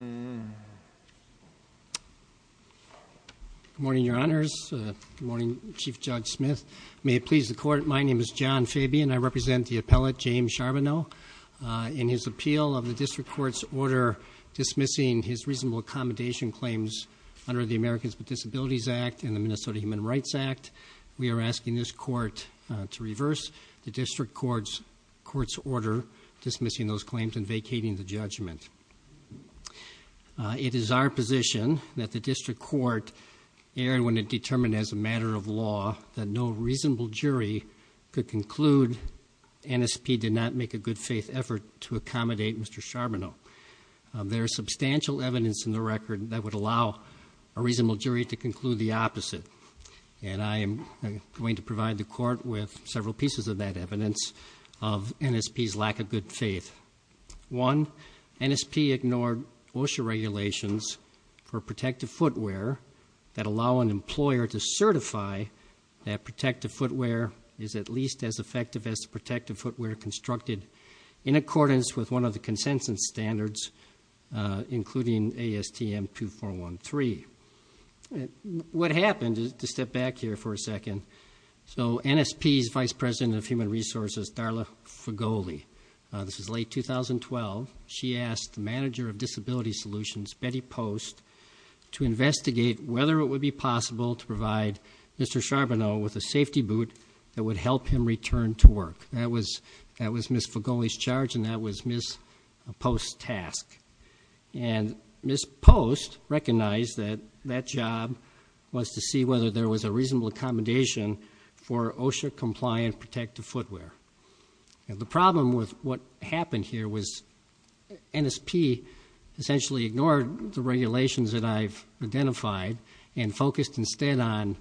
Good morning, Your Honors. Good morning, Chief Judge Smith. May it please the Court, my name is John Fabian. I represent the appellate, James Sharbono. In his appeal of the District Court's order dismissing his reasonable accommodation claims under the Americans with Disabilities Act and the Minnesota Human Rights Act, we are asking this Court to reverse the District Court's order dismissing those claims and vacating the judgment. It is our position that the District Court, when it determined as a matter of law that no reasonable jury could conclude NSP did not make a good faith effort to accommodate Mr. Sharbono. There is substantial evidence in the record that would allow a reasonable jury to conclude the opposite. And I am going to provide the Court with several pieces of that evidence of NSP's lack of good faith. One, NSP ignored OSHA regulations for protective footwear that allow an employer to certify that protective footwear is at least as effective as the protective footwear constructed in accordance with one of the consensus standards including ASTM 2413. What happened, just step back here for a second, so NSP's Vice President of Human Resources, Darla Fugoli, this is late 2012, she asked the Manager of Disability Solutions, Betty Post, to investigate whether it would be possible to provide Mr. Sharbono with a safety boot that would help him return to work. That was Ms. Fugoli's charge and that was Ms. Post's task. And Ms. Post recognized that that job was to see whether there was a reasonable accommodation for OSHA compliant protective footwear. The problem with what happened here was NSP essentially ignored the regulations that I've identified and focused instead on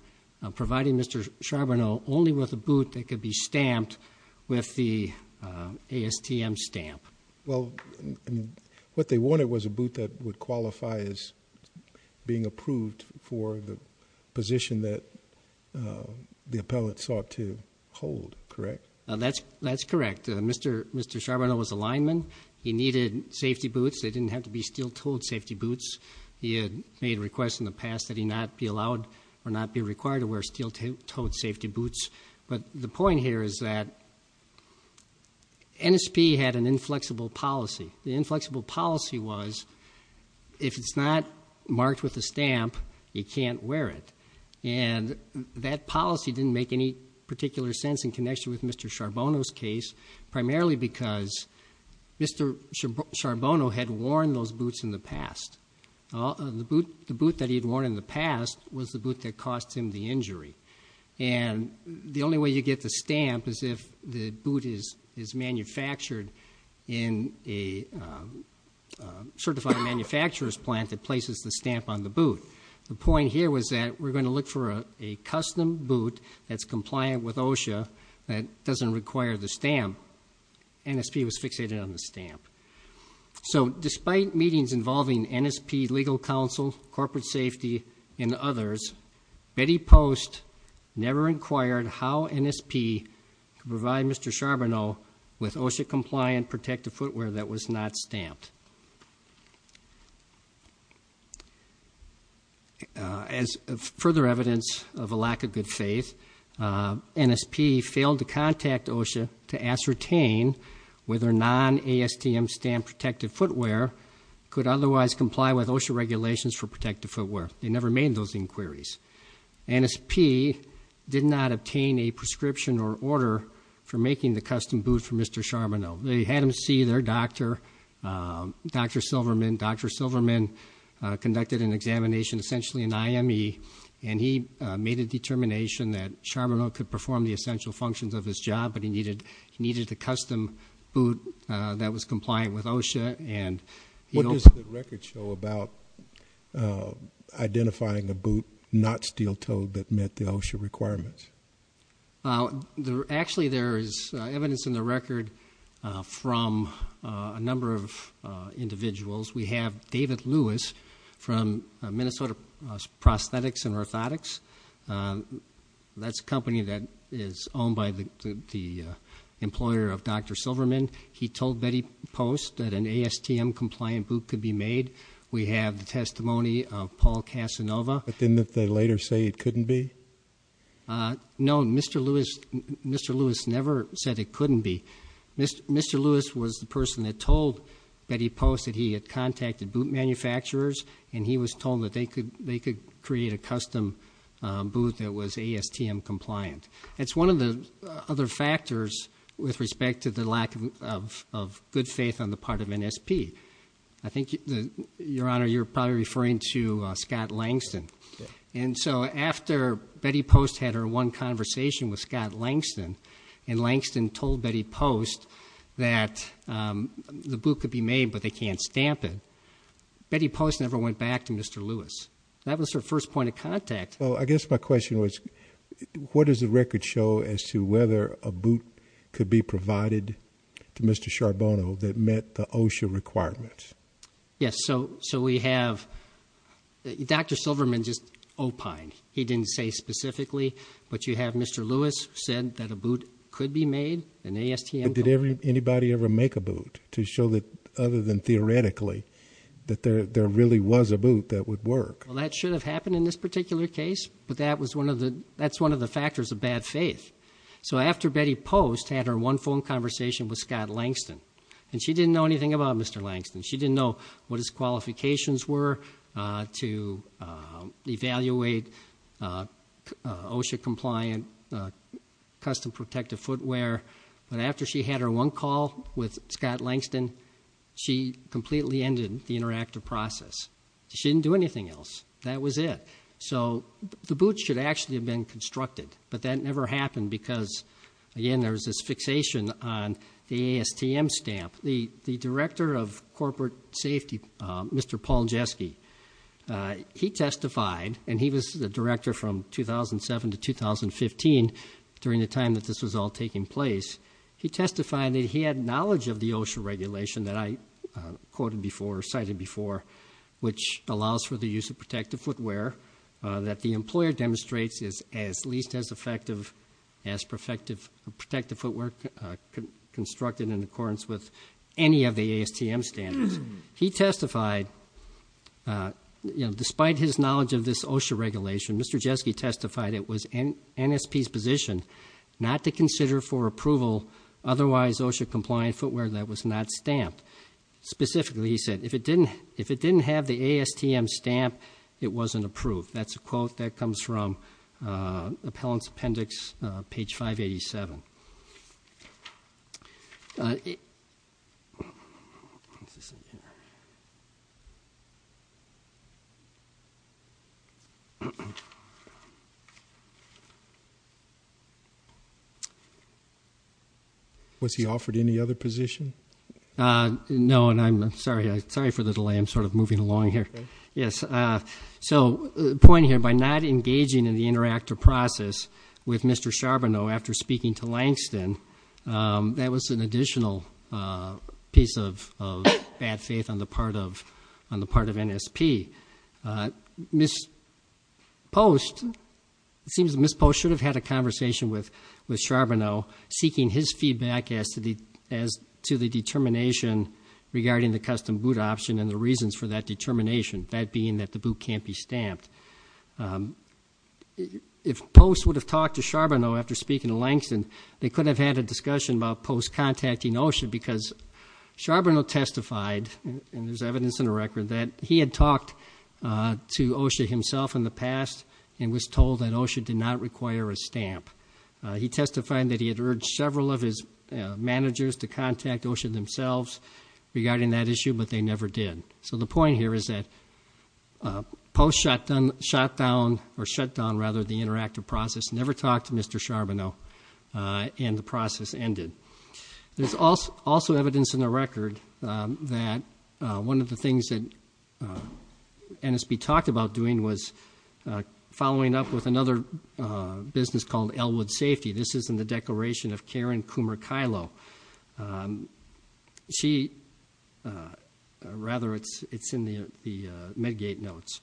providing Mr. Sharbono only with a boot that could be stamped with the ASTM stamp. Well, what they wanted was a boot that would qualify as being approved for the position that the appellate sought to hold, correct? That's correct. Mr. Sharbono was a lineman. He needed safety boots. They didn't have to be steel-toed safety boots. He had made requests in the past that he not be allowed or not be required to wear steel-toed safety boots. But the point here is that NSP had an inflexible policy. The inflexible policy was, if it's not marked with a stamp, you can't wear it. And that policy didn't make any particular sense in connection with Mr. Sharbono's case, primarily because Mr. Sharbono had worn those boots in the past. The boot that he'd worn in the past was the boot that cost him the injury. And the only way you get the stamp is if the boot is manufactured in a certified manufacturer's plant that places the stamp on the boot. The point here was that we're going to look for a custom boot that's compliant with OSHA, that doesn't require the stamp. NSP was fixated on the stamp. So despite meetings involving NSP legal counsel, corporate safety, and others, Betty Post never inquired how NSP could provide Mr. Sharbono with OSHA-compliant protective footwear that was not stamped. As further evidence of a lack of good faith, NSP failed to contact OSHA to ascertain whether non-ASTM stamped protective footwear could otherwise comply with OSHA regulations for protective footwear. They never made those inquiries. NSP did not obtain a prescription or order for making the custom boot for Mr. Sharbono. They had him see their doctor, Dr. Silverman. Dr. Silverman conducted an examination, essentially an IME, and he made a determination that Sharbono could perform the essential functions of his job, but he needed the custom boot that was compliant with OSHA. And what does the record show about identifying the boot not steel-toed that met the OSHA requirements? Actually, there is evidence in the record from a number of individuals. We have David Lewis from Minnesota Prosthetics and Orthotics. That's a company that is owned by the employer of Dr. Silverman. He told Betty Post that an ASTM-compliant boot could be made. We have the testimony of Paul Casanova. But didn't they later say it couldn't be? No, Mr. Lewis never said it couldn't be. Mr. Lewis was the person that told Betty Post that he had contacted boot manufacturers and he was told that they could create a custom boot that was ASTM-compliant. That's one of the other factors with respect to the lack of good faith on the part of NSP. Your Honor, you're probably referring to Scott Langston. And so after Betty Post had her one conversation with Scott Langston, and Langston told Betty Post that the boot could be made but they can't stamp it, Betty Post never went back to Mr. Lewis. That was her first point of contact. Well, I guess my question was, what does the record show as to whether a boot could be provided to Mr. Charbonneau that met the OSHA requirements? Yes, so we have Dr. Silverman just opined. He didn't say specifically, but you have Mr. Lewis said that a boot could be made and ASTM-compliant. But did anybody ever make a boot to show that other than theoretically that there really was a boot that would work? Well, that should have happened in this particular case, but that's one of the factors of bad faith. So after Betty Post had her one phone conversation with Scott Langston, and she didn't know anything about Mr. Lewis, she didn't know what her qualifications were to evaluate OSHA-compliant custom protective footwear. But after she had her one call with Scott Langston, she completely ended the interactive process. She didn't do anything else. That was it. So the boot should actually have been constructed, but that never happened because, again, there was this fixation on the ASTM stamp. The Director of Mr. Paul Jeske, he testified, and he was the Director from 2007 to 2015 during the time that this was all taking place. He testified that he had knowledge of the OSHA regulation that I quoted before, cited before, which allows for the use of protective footwear that the employer demonstrates is at least as effective as protective footwear constructed in accordance with any of the ASTM standards. He testified, despite his knowledge of this OSHA regulation, Mr. Jeske testified it was NSP's position not to consider for approval otherwise OSHA-compliant footwear that was not stamped. Specifically, he said, if it didn't have the ASTM stamp, it wasn't approved. That's a quote that comes from Appellant's Appendix, page 587. Is this in here? Was he offered any other position? No, and I'm sorry for the delay. I'm sort of moving along here. Yes, so the point here, by not engaging in the interactive process with Mr. Charbonneau after speaking to Langston, that was an additional piece of bad faith on the part of NSP. Ms. Post, it seems Ms. Post should have had a conversation with Charbonneau seeking his feedback as to the determination regarding the custom boot option and the reasons for that determination, that being that the boot can't be stamped. If Post would have talked to Langston, they could have had a discussion about Post contacting OSHA because Charbonneau testified, and there's evidence in the record, that he had talked to OSHA himself in the past and was told that OSHA did not require a stamp. He testified that he had urged several of his managers to contact OSHA themselves regarding that issue, but they never did. So the point here is that Post shut down the interactive process, never talked to Mr. Charbonneau, and the process ended. There's also evidence in the record that one of the things that NSP talked about doing was following up with another business called Elwood Safety. This is in the declaration of Karen Kumarkilo. Rather, it's in the Medgate notes.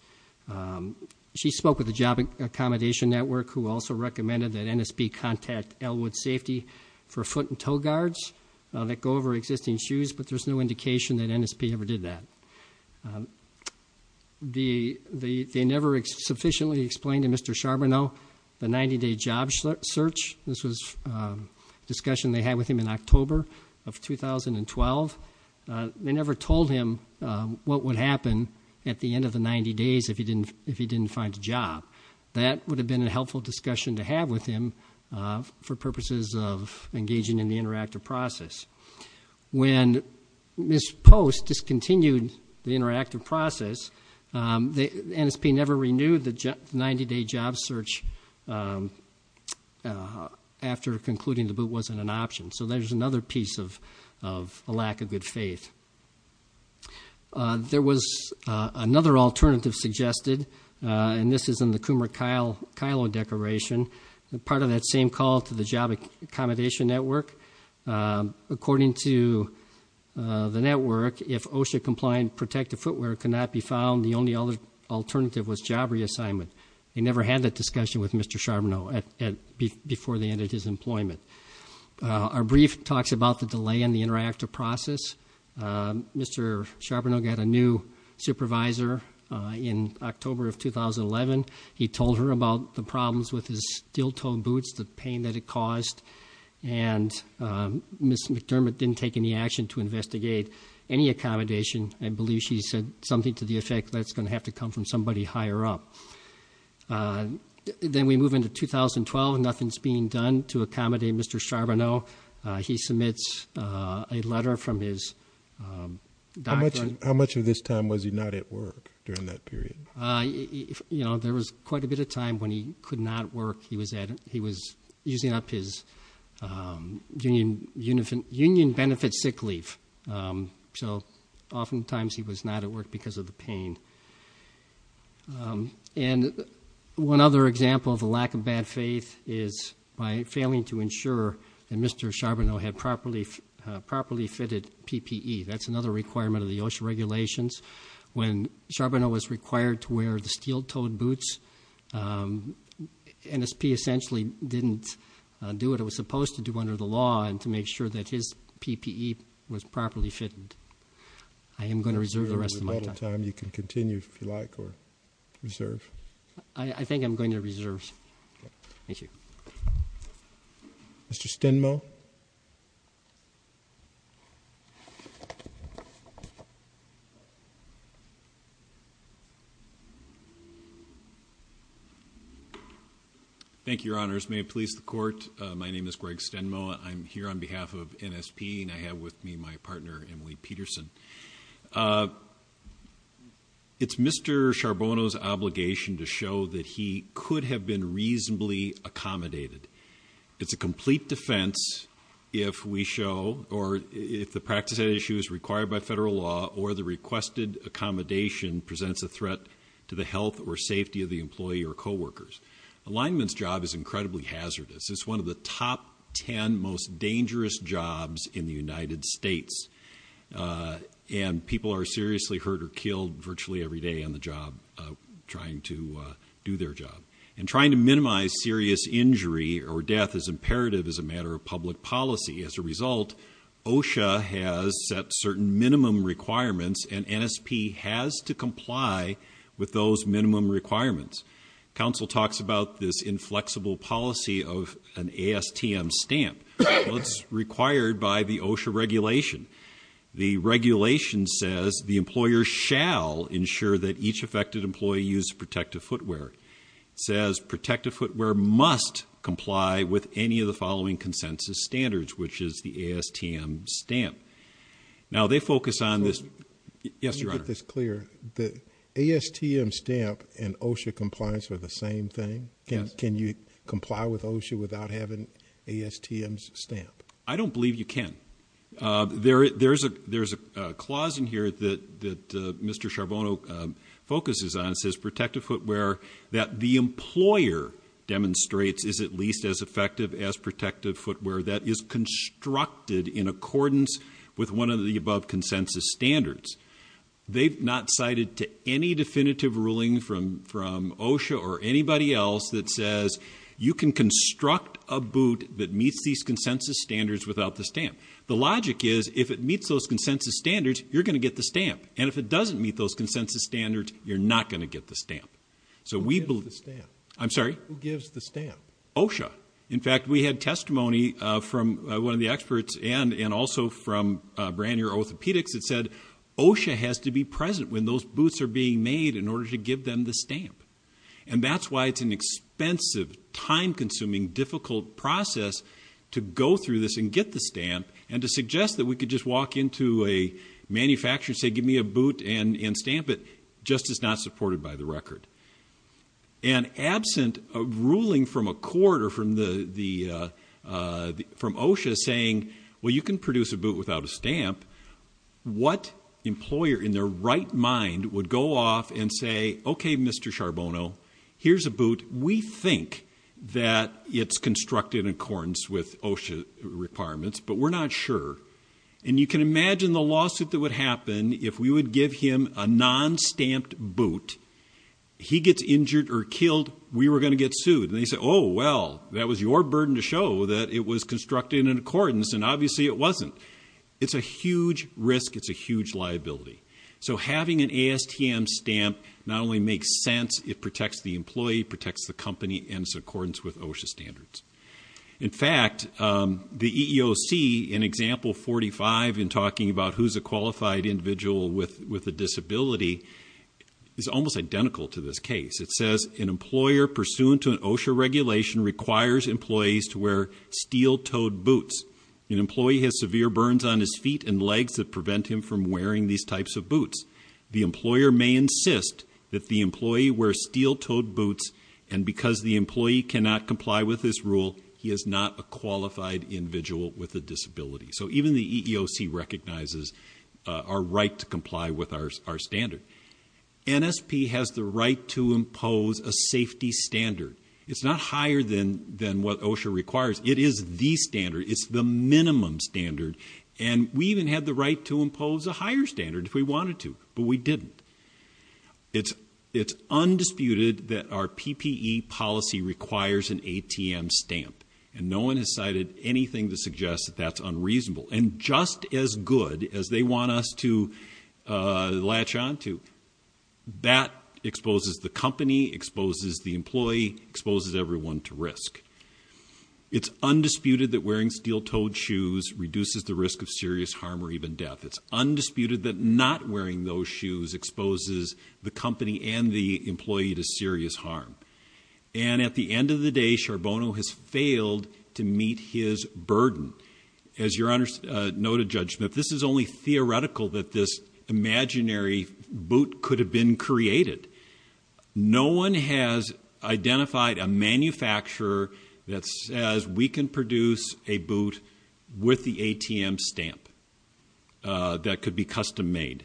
She spoke with the Job Accommodation Network, who also recommended that NSP contact Elwood Safety for foot and toe guards that go over existing shoes, but there's no indication that NSP ever did that. They never sufficiently explained to Mr. Charbonneau the 90-day job search. This was a discussion they had with him in October of 2012. They never told him what would happen at the end of the 90 days if he didn't find a job. That would have been a helpful discussion to have with him for purposes of engaging in the interactive process. When Ms. Post discontinued the interactive process, NSP never renewed the 90-day job search after concluding the boot wasn't an option. So there's another piece of a lack of good faith. There was another alternative suggested, and this is in the Kumarkilo declaration, part of that same call to the Job Accommodation Network. According to the network, if OSHA-compliant protective footwear cannot be found, the only other alternative was job reassignment. They never had that discussion with Mr. Charbonneau before the end of his employment. Our brief talks about the delay in the interactive process. Mr. Charbonneau got a new supervisor in October of 2011. He told her about the problems with his steel-toed boots, the pain that it caused, and Ms. McDermott didn't take any action to investigate any accommodation. I believe she said something to the effect, that's going to have to come from somebody higher up. Then we move into 2012. Nothing's being done to accommodate Mr. Charbonneau. He submits a letter from his doctor. How much of this time was he not at work during that period? You know, there was quite a bit of time when he could not work. He was using up his union benefit sick leave. Oftentimes, he was not at work because of the pain. One other example of a lack of bad faith is by failing to ensure that Mr. Charbonneau had properly fitted PPE. That's another requirement of the OSHA regulations. When Charbonneau was required to wear the steel-toed boots, NSP essentially didn't do what it was supposed to do under the law and to make sure that his PPE was properly fitted. I am going to reserve the rest of my time. You can continue if you like or reserve. I think I'm going to reserve. Thank you. Mr. Stenmo. Thank you, Your Honors. May it please the Court, my name is Greg Stenmo. I'm here on behalf of NSP and I have with me my partner, Emily Peterson. It's Mr. Charbonneau's obligation to show that he could have been reasonably accommodated. It's a complete defense if we show or if the practice at issue is required by federal law or the requested accommodation presents a threat to the health or safety of the employee or co-workers. A lineman's job is incredibly hazardous. It's one of the top 10 most dangerous jobs in the United States. And people are seriously hurt or killed virtually every day on the job trying to do their job. And trying to minimize serious injury or death is imperative as a matter of public policy. As a result, OSHA has set certain minimum requirements and NSP has to comply with those minimum requirements. Council talks about this inflexible policy of an ASTM stamp. Well, it's required by OSHA regulation. The regulation says the employer shall ensure that each affected employee use protective footwear. It says protective footwear must comply with any of the following consensus standards, which is the ASTM stamp. Now, they focus on this. Yes, Your Honor. Let me get this clear. The ASTM stamp and OSHA compliance are the same thing? Yes. Can you comply with OSHA without having ASTM's stamp? I don't believe you can. There's a clause in here that Mr. Charbonneau focuses on. It says protective footwear that the employer demonstrates is at least as effective as protective footwear that is constructed in accordance with one of the above consensus standards. They've not cited to any definitive ruling from OSHA or anybody else that says you can construct a boot that meets these consensus standards without the stamp. The logic is if it meets those consensus standards, you're going to get the stamp. And if it doesn't meet those consensus standards, you're not going to get the stamp. So we believe... Who gives the stamp? I'm sorry? Who gives the stamp? OSHA. In fact, we had testimony from one of the experts and also from Branier Orthopedics that said OSHA has to be present when those boots are being made in order to give them the stamp. And that's why it's an expensive, time-consuming, difficult process to go through this and get the stamp and to suggest that we could just walk into a manufacturer and say, give me a boot and stamp it, just as not supported by the record. And absent a ruling from a court or from OSHA saying, well, you can produce a boot without a stamp, what employer in their right mind would go off and say, okay, Mr. Charbonneau, here's a boot. We think that it's constructed in accordance with OSHA requirements, but we're not sure. And you can imagine the lawsuit that would happen if we would give him a non-stamped boot, he gets injured or killed, we were going to get sued. And they say, oh, well, that was your burden to show that it was constructed in accordance. And obviously it wasn't. It's a huge risk. It's a huge liability. So having an ASTM stamp, not only makes sense, it protects the employee, protects the company in accordance with OSHA standards. In fact, the EEOC in example 45 in talking about who's a qualified individual with a disability is almost identical to this case. It says, an employer pursuant to an OSHA regulation requires employees to wear steel-toed boots. An employee has severe burns on his feet and legs that prevent him from wearing these types of boots. The employer may insist that the employee wear steel-toed boots, and because the employee cannot comply with this rule, he is not a qualified individual with a disability. So even the EEOC recognizes our right to comply with our standard. NSP has the right to impose a safety standard. It's not higher than what OSHA requires. It is the standard. It's the minimum standard. And we even had the right to impose a higher standard if we wanted to, but we didn't. It's undisputed that our PPE policy requires an ATM stamp, and no one has cited anything to suggest that that's unreasonable. And just as good as they want us to latch on to, that exposes the company, exposes the employee, exposes everyone to risk. It's undisputed that wearing steel-toed shoes reduces the risk of serious harm or even death. It's undisputed that not wearing those shoes exposes the company and the employee to serious harm. And at the end of the day, Charbonneau has failed to meet his burden. As Your Honor noted, Judge Smith, this is only theoretical that this imaginary boot could have been created. No one has identified a manufacturer that says we can produce a boot with the ATM stamp that could be custom made.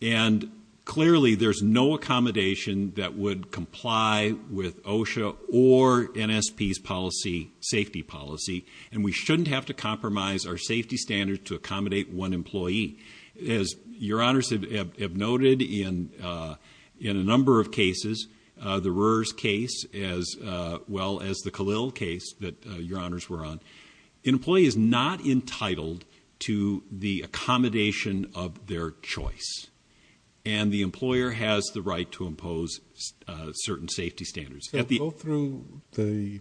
And clearly, there's no accommodation that would comply with OSHA or NSP's policy, safety policy, and we shouldn't have to compromise our safety standards to In a number of cases, the Roers case as well as the Khalil case that Your Honors were on, an employee is not entitled to the accommodation of their choice. And the employer has the right to impose certain safety standards. Go through the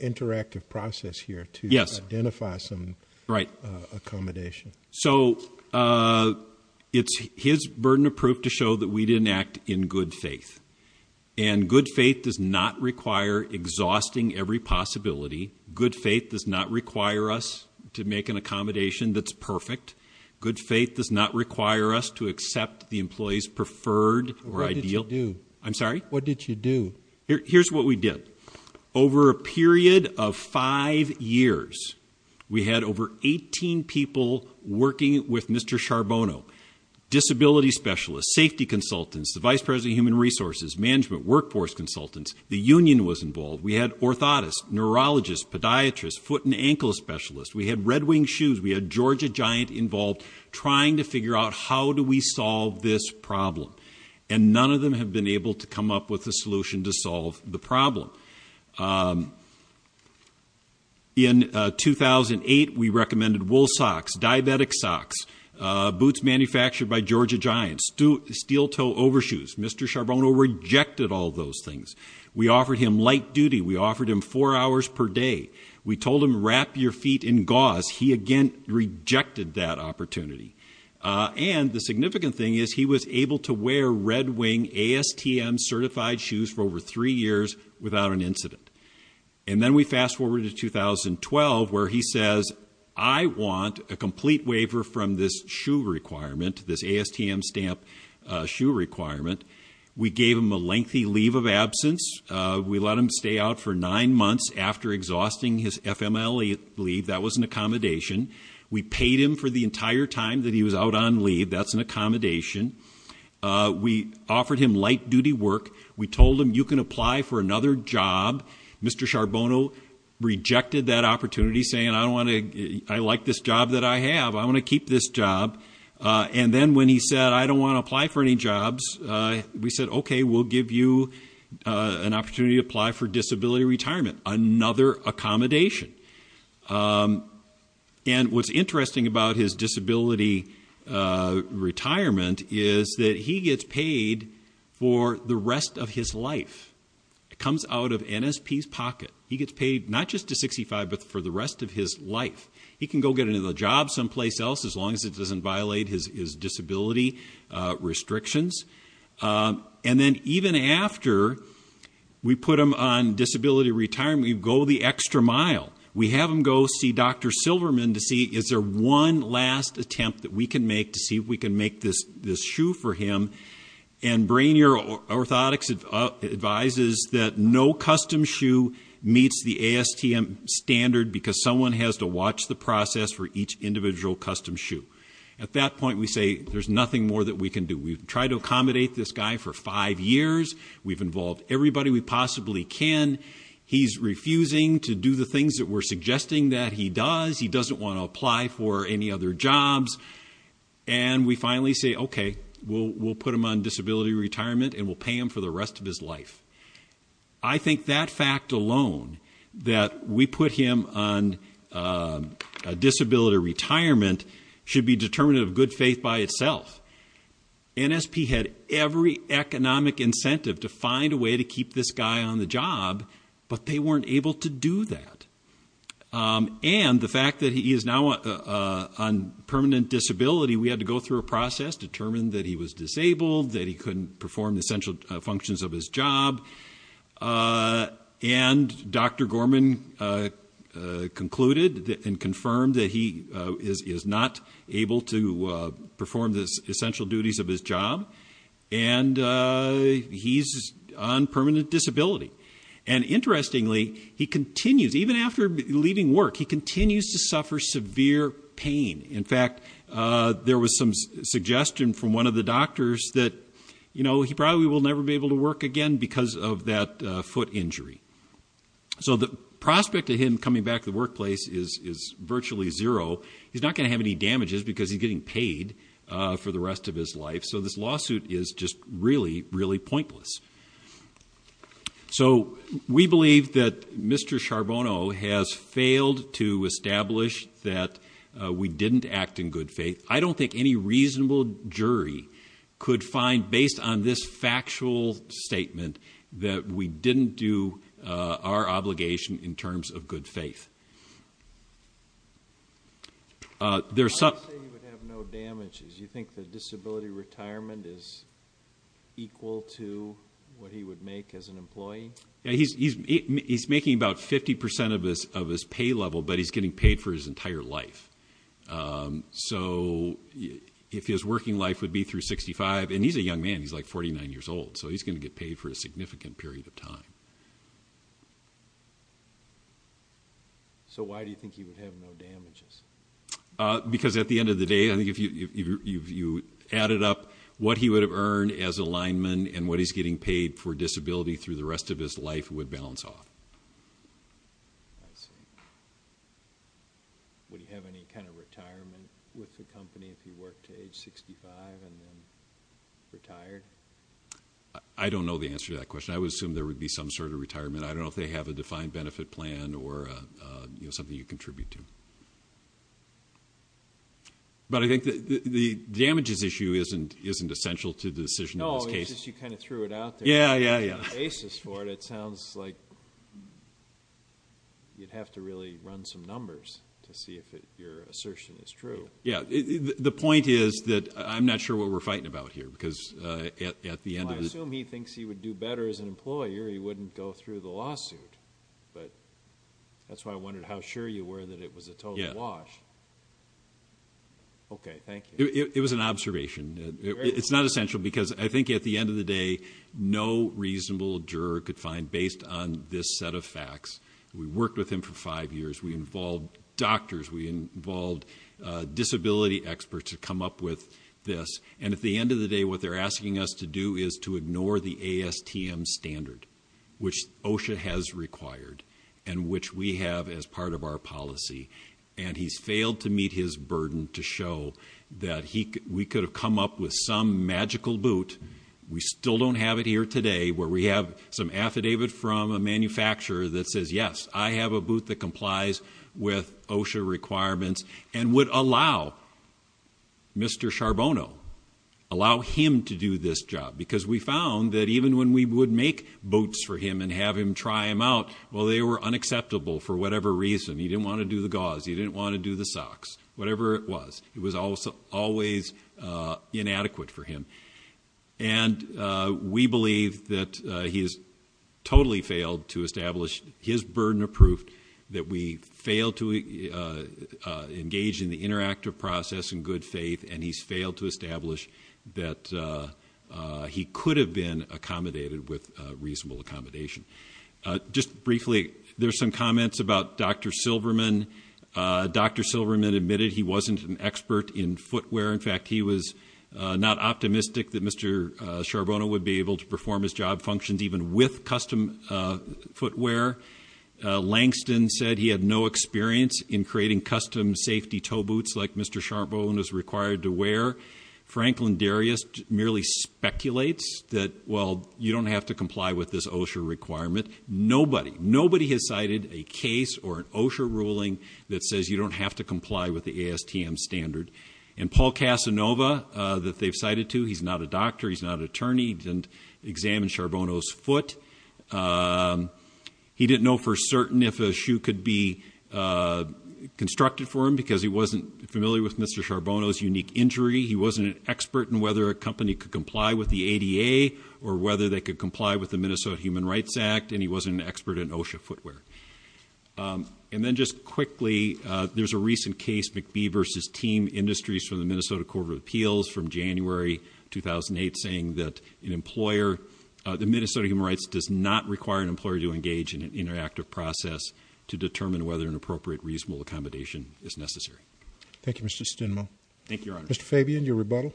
interactive process here to identify some accommodation. So it's his burden of proof to show that we didn't act in good faith. And good faith does not require exhausting every possibility. Good faith does not require us to make an accommodation that's perfect. Good faith does not require us to accept the employee's preferred or ideal. What did you do? I'm sorry? What did you do? Here's what we did. Over a period of five years, we had over 18 people working with Mr. Charbonneau, disability specialists, safety consultants, the vice president of human resources, management, workforce consultants. The union was involved. We had orthotists, neurologists, podiatrists, foot and ankle specialists. We had Red Wing Shoes. We had Georgia Giant involved trying to figure out how do we solve this problem. And none of them have been able to come up with a solution to solve the problem. In 2008, we recommended wool socks, diabetic socks, boots manufactured by Georgia Giant, steel toe overshoes. Mr. Charbonneau rejected all those things. We offered him light duty. We offered him four hours per day. We told him wrap your feet in gauze. He again rejected that opportunity. And the significant thing is he was able to wear Red Wing ASTM certified shoes for over three years without an incident. And then we fast forward to 2012 where he says, I want a complete waiver from this shoe requirement, this ASTM stamp shoe requirement. We gave him a lengthy leave of absence. We let him stay out for nine months after exhausting his FMLE leave. That was an accommodation. We paid him for the entire time that he was out on leave. That's an accommodation. We offered him light duty work. We told him you can apply for another job. Mr. Charbonneau rejected that opportunity saying, I don't want to, I like this job that I have. I want to keep this job. And then when he said, I don't want to apply for any jobs, we said, okay, we'll give you an opportunity to apply for disability retirement, another accommodation. And what's interesting about his disability retirement is that he gets paid for the rest of his life. It comes out of NSP's pocket. He gets paid not just to 65, but for the rest of his life. He can go get another job someplace else as long as it doesn't violate his disability retirement. You go the extra mile. We have him go see Dr. Silverman to see is there one last attempt that we can make to see if we can make this shoe for him. And Brainier Orthotics advises that no custom shoe meets the ASTM standard because someone has to watch the process for each individual custom shoe. At that point, we say there's nothing more that we can do. We've to accommodate this guy for five years. We've involved everybody we possibly can. He's refusing to do the things that we're suggesting that he does. He doesn't want to apply for any other jobs. And we finally say, okay, we'll put him on disability retirement and we'll pay him for the rest of his life. I think that fact alone that we put him on a disability retirement should be determined of good faith by itself. NSP had every economic incentive to find a way to keep this guy on the job, but they weren't able to do that. And the fact that he is now on permanent disability, we had to go through a process to determine that he was disabled, that he couldn't perform the central functions of his job. And Dr. Gorman concluded and confirmed that he is not able to perform the essential duties of his job. And he's on permanent disability. And interestingly, he continues, even after leaving work, he continues to suffer severe pain. In fact, there was some suggestion from one of the doctors that he probably will never be able to work again because of that foot injury. So the prospect of him coming back to the workplace is virtually zero. He's not going to have any damages because he's getting paid for the rest of his life. So this lawsuit is just really, really pointless. So we believe that Mr. Charbonneau has failed to establish that we didn't act in good faith. I don't think any reasonable jury could find based on this factual statement that we didn't do our obligation in terms of good faith. There's some... Why do you say he would have no damages? You think the disability retirement is equal to what he would make as an employee? Yeah, he's making about 50% of his pay level, but he's getting paid for his entire life. So if his working life would be through 65, and he's a young man, he's like 49 years old, so he's going to get paid for a significant period of time. So why do you think he would have no damages? Because at the end of the day, I think if you added up what he would have earned as a lineman and what he's getting paid for disability through the rest of his life would balance off. Would he have any kind of retirement with the company if he worked to age 65 and then retired? I don't know the answer to that question. I would assume there would be some sort of retirement. I don't know if they have a defined benefit plan or something you contribute to. But I think the damages issue isn't essential to the decision in this case. No, it's just you kind of threw it out there. Yeah, yeah, yeah. Basis for it. It sounds like you'd have to really run some numbers to see if your assertion is true. Yeah, the point is that I'm not sure what we're fighting about here because at the end of the... I assume he thinks he would do better as an employer. He wouldn't go through the lawsuit. But that's why I wondered how sure you were that it was a total wash. Okay, thank you. It was an observation. It's not essential because I think at the end of the day, no reasonable juror could find based on this set of facts. We worked with him for five years. We involved doctors. We involved disability experts to come up with this. And at the end of the day, what they're asking us to do is to ignore the ASTM standard, which OSHA has required and which we have as part of our policy. And he's failed to meet his burden to show that we could have come up with some magical boot. We still don't have it here today where we have some affidavit from a manufacturer that says, yes, I have a boot that complies with OSHA requirements and would allow Mr. Charbonneau, allow him to do this job. Because we found that even when we would make boots for him and have him try them out, well, they were unacceptable for whatever reason. He didn't want to do the gauze. He didn't want to do the socks, whatever it was. It was always inadequate for him. And we believe that he has totally failed to establish his burden of proof, that we failed to engage in the interactive process in good faith, and he's failed to establish that he could have been accommodated with reasonable accommodation. Just briefly, there's some comments about Dr. Silverman. Dr. Silverman admitted he wasn't an expert in footwear. In fact, he was not optimistic that Mr. Charbonneau would be able to perform his job functions even with custom footwear. Langston said he had no experience in creating custom safety toe boots like Mr. Charbonneau is required to wear. Franklin Darius merely speculates that, well, you don't have to comply with this OSHA requirement. Nobody, nobody has cited a case or an OSHA ruling that says you don't have to comply with the ASTM standard. And Paul Casanova that they've cited to, he's not a doctor, he's not an attorney, he didn't examine Charbonneau's foot. He didn't know for certain if a shoe could be constructed for him because he wasn't familiar with Mr. Charbonneau's unique injury. He wasn't an expert in whether a company could comply with the ADA or whether they could comply with the Minnesota Human Rights Act, and he wasn't an expert in OSHA footwear. Um, and then just quickly, uh, there's a recent case, McBee versus Team Industries from the Minnesota Court of Appeals from January 2008 saying that an employer, uh, the Minnesota Human Rights does not require an employer to engage in an interactive process to determine whether an appropriate reasonable accommodation is necessary. Thank you, Mr. Stinmo. Thank you, Your Honor. Mr. Fabian, your rebuttal.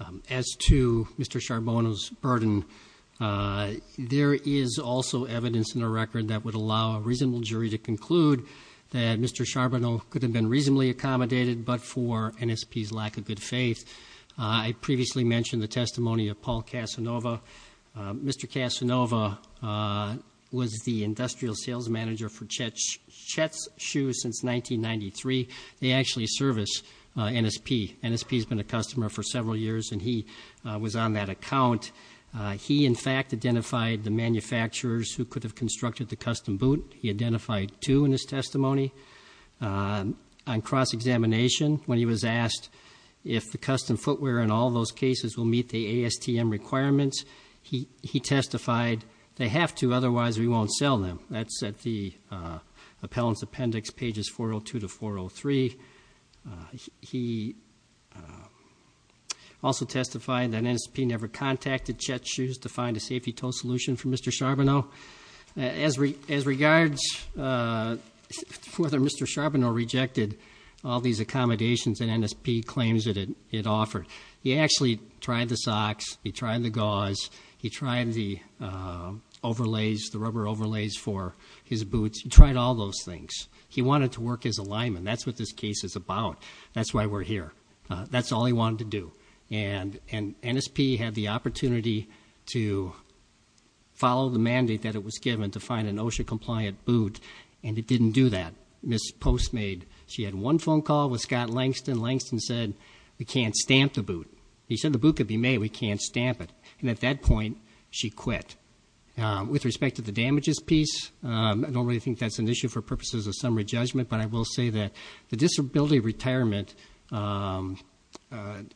Um, as to Mr. Charbonneau's burden, uh, there is also evidence in a record that would allow a reasonable jury to conclude that Mr. Charbonneau could have been reasonably accommodated, but for NSP's lack of good faith. I previously mentioned the testimony of Paul Casanova. Mr. Casanova was the industrial sales manager for Chet's Shoes since 1993. They actually service NSP. NSP's been a customer for several years, and he was on that account. He, in fact, identified the manufacturers who could have constructed the custom boot. He identified two in his testimony. On cross-examination, when he was asked if the custom footwear in all those cases will meet the ASTM requirements, he testified, they have to, otherwise we won't sell them. That's at the, uh, Appellant's Appendix, pages 402 to 403. He also testified that NSP never contacted Chet's Shoes to find a safety toe solution for Mr. Charbonneau. As regards, uh, whether Mr. Charbonneau rejected all these accommodations that NSP claims that it offered, he actually tried the socks. He tried the gauze. He tried the overlays, the rubber overlays for his boots. He tried all those things. He wanted to work his alignment. That's what this case is about. That's why we're here. That's all he wanted to do. And NSP had the opportunity to follow the mandate that it was given to find an OSHA-compliant boot, and it didn't do that. Ms. Post made, she had one phone call with Scott Langston. Langston said, we can't stamp the boot. He said, the boot could be made. We can't stamp it. And at that point, she quit. With respect to the damages piece, I don't really think that's an issue for purposes of summary judgment, but I will say that the disability retirement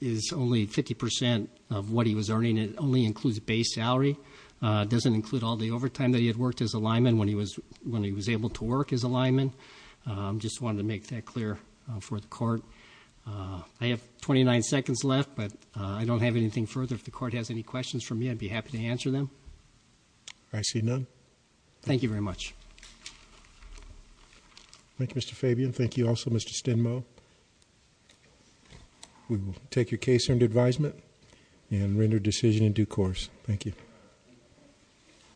is only 50% of what he was earning. It only includes base salary. It doesn't include all the overtime that he had worked his alignment when he was, when he was able to work his alignment. Just wanted to make that clear for the court. I have 29 seconds left, but I don't have anything further. If the court has any questions for me, I'd be happy to answer them. I see none. Thank you very much. Thank you, Mr. Fabian. Thank you also, Mr. Stenmoe. We will take your case under advisement and render decision in due course. Thank you.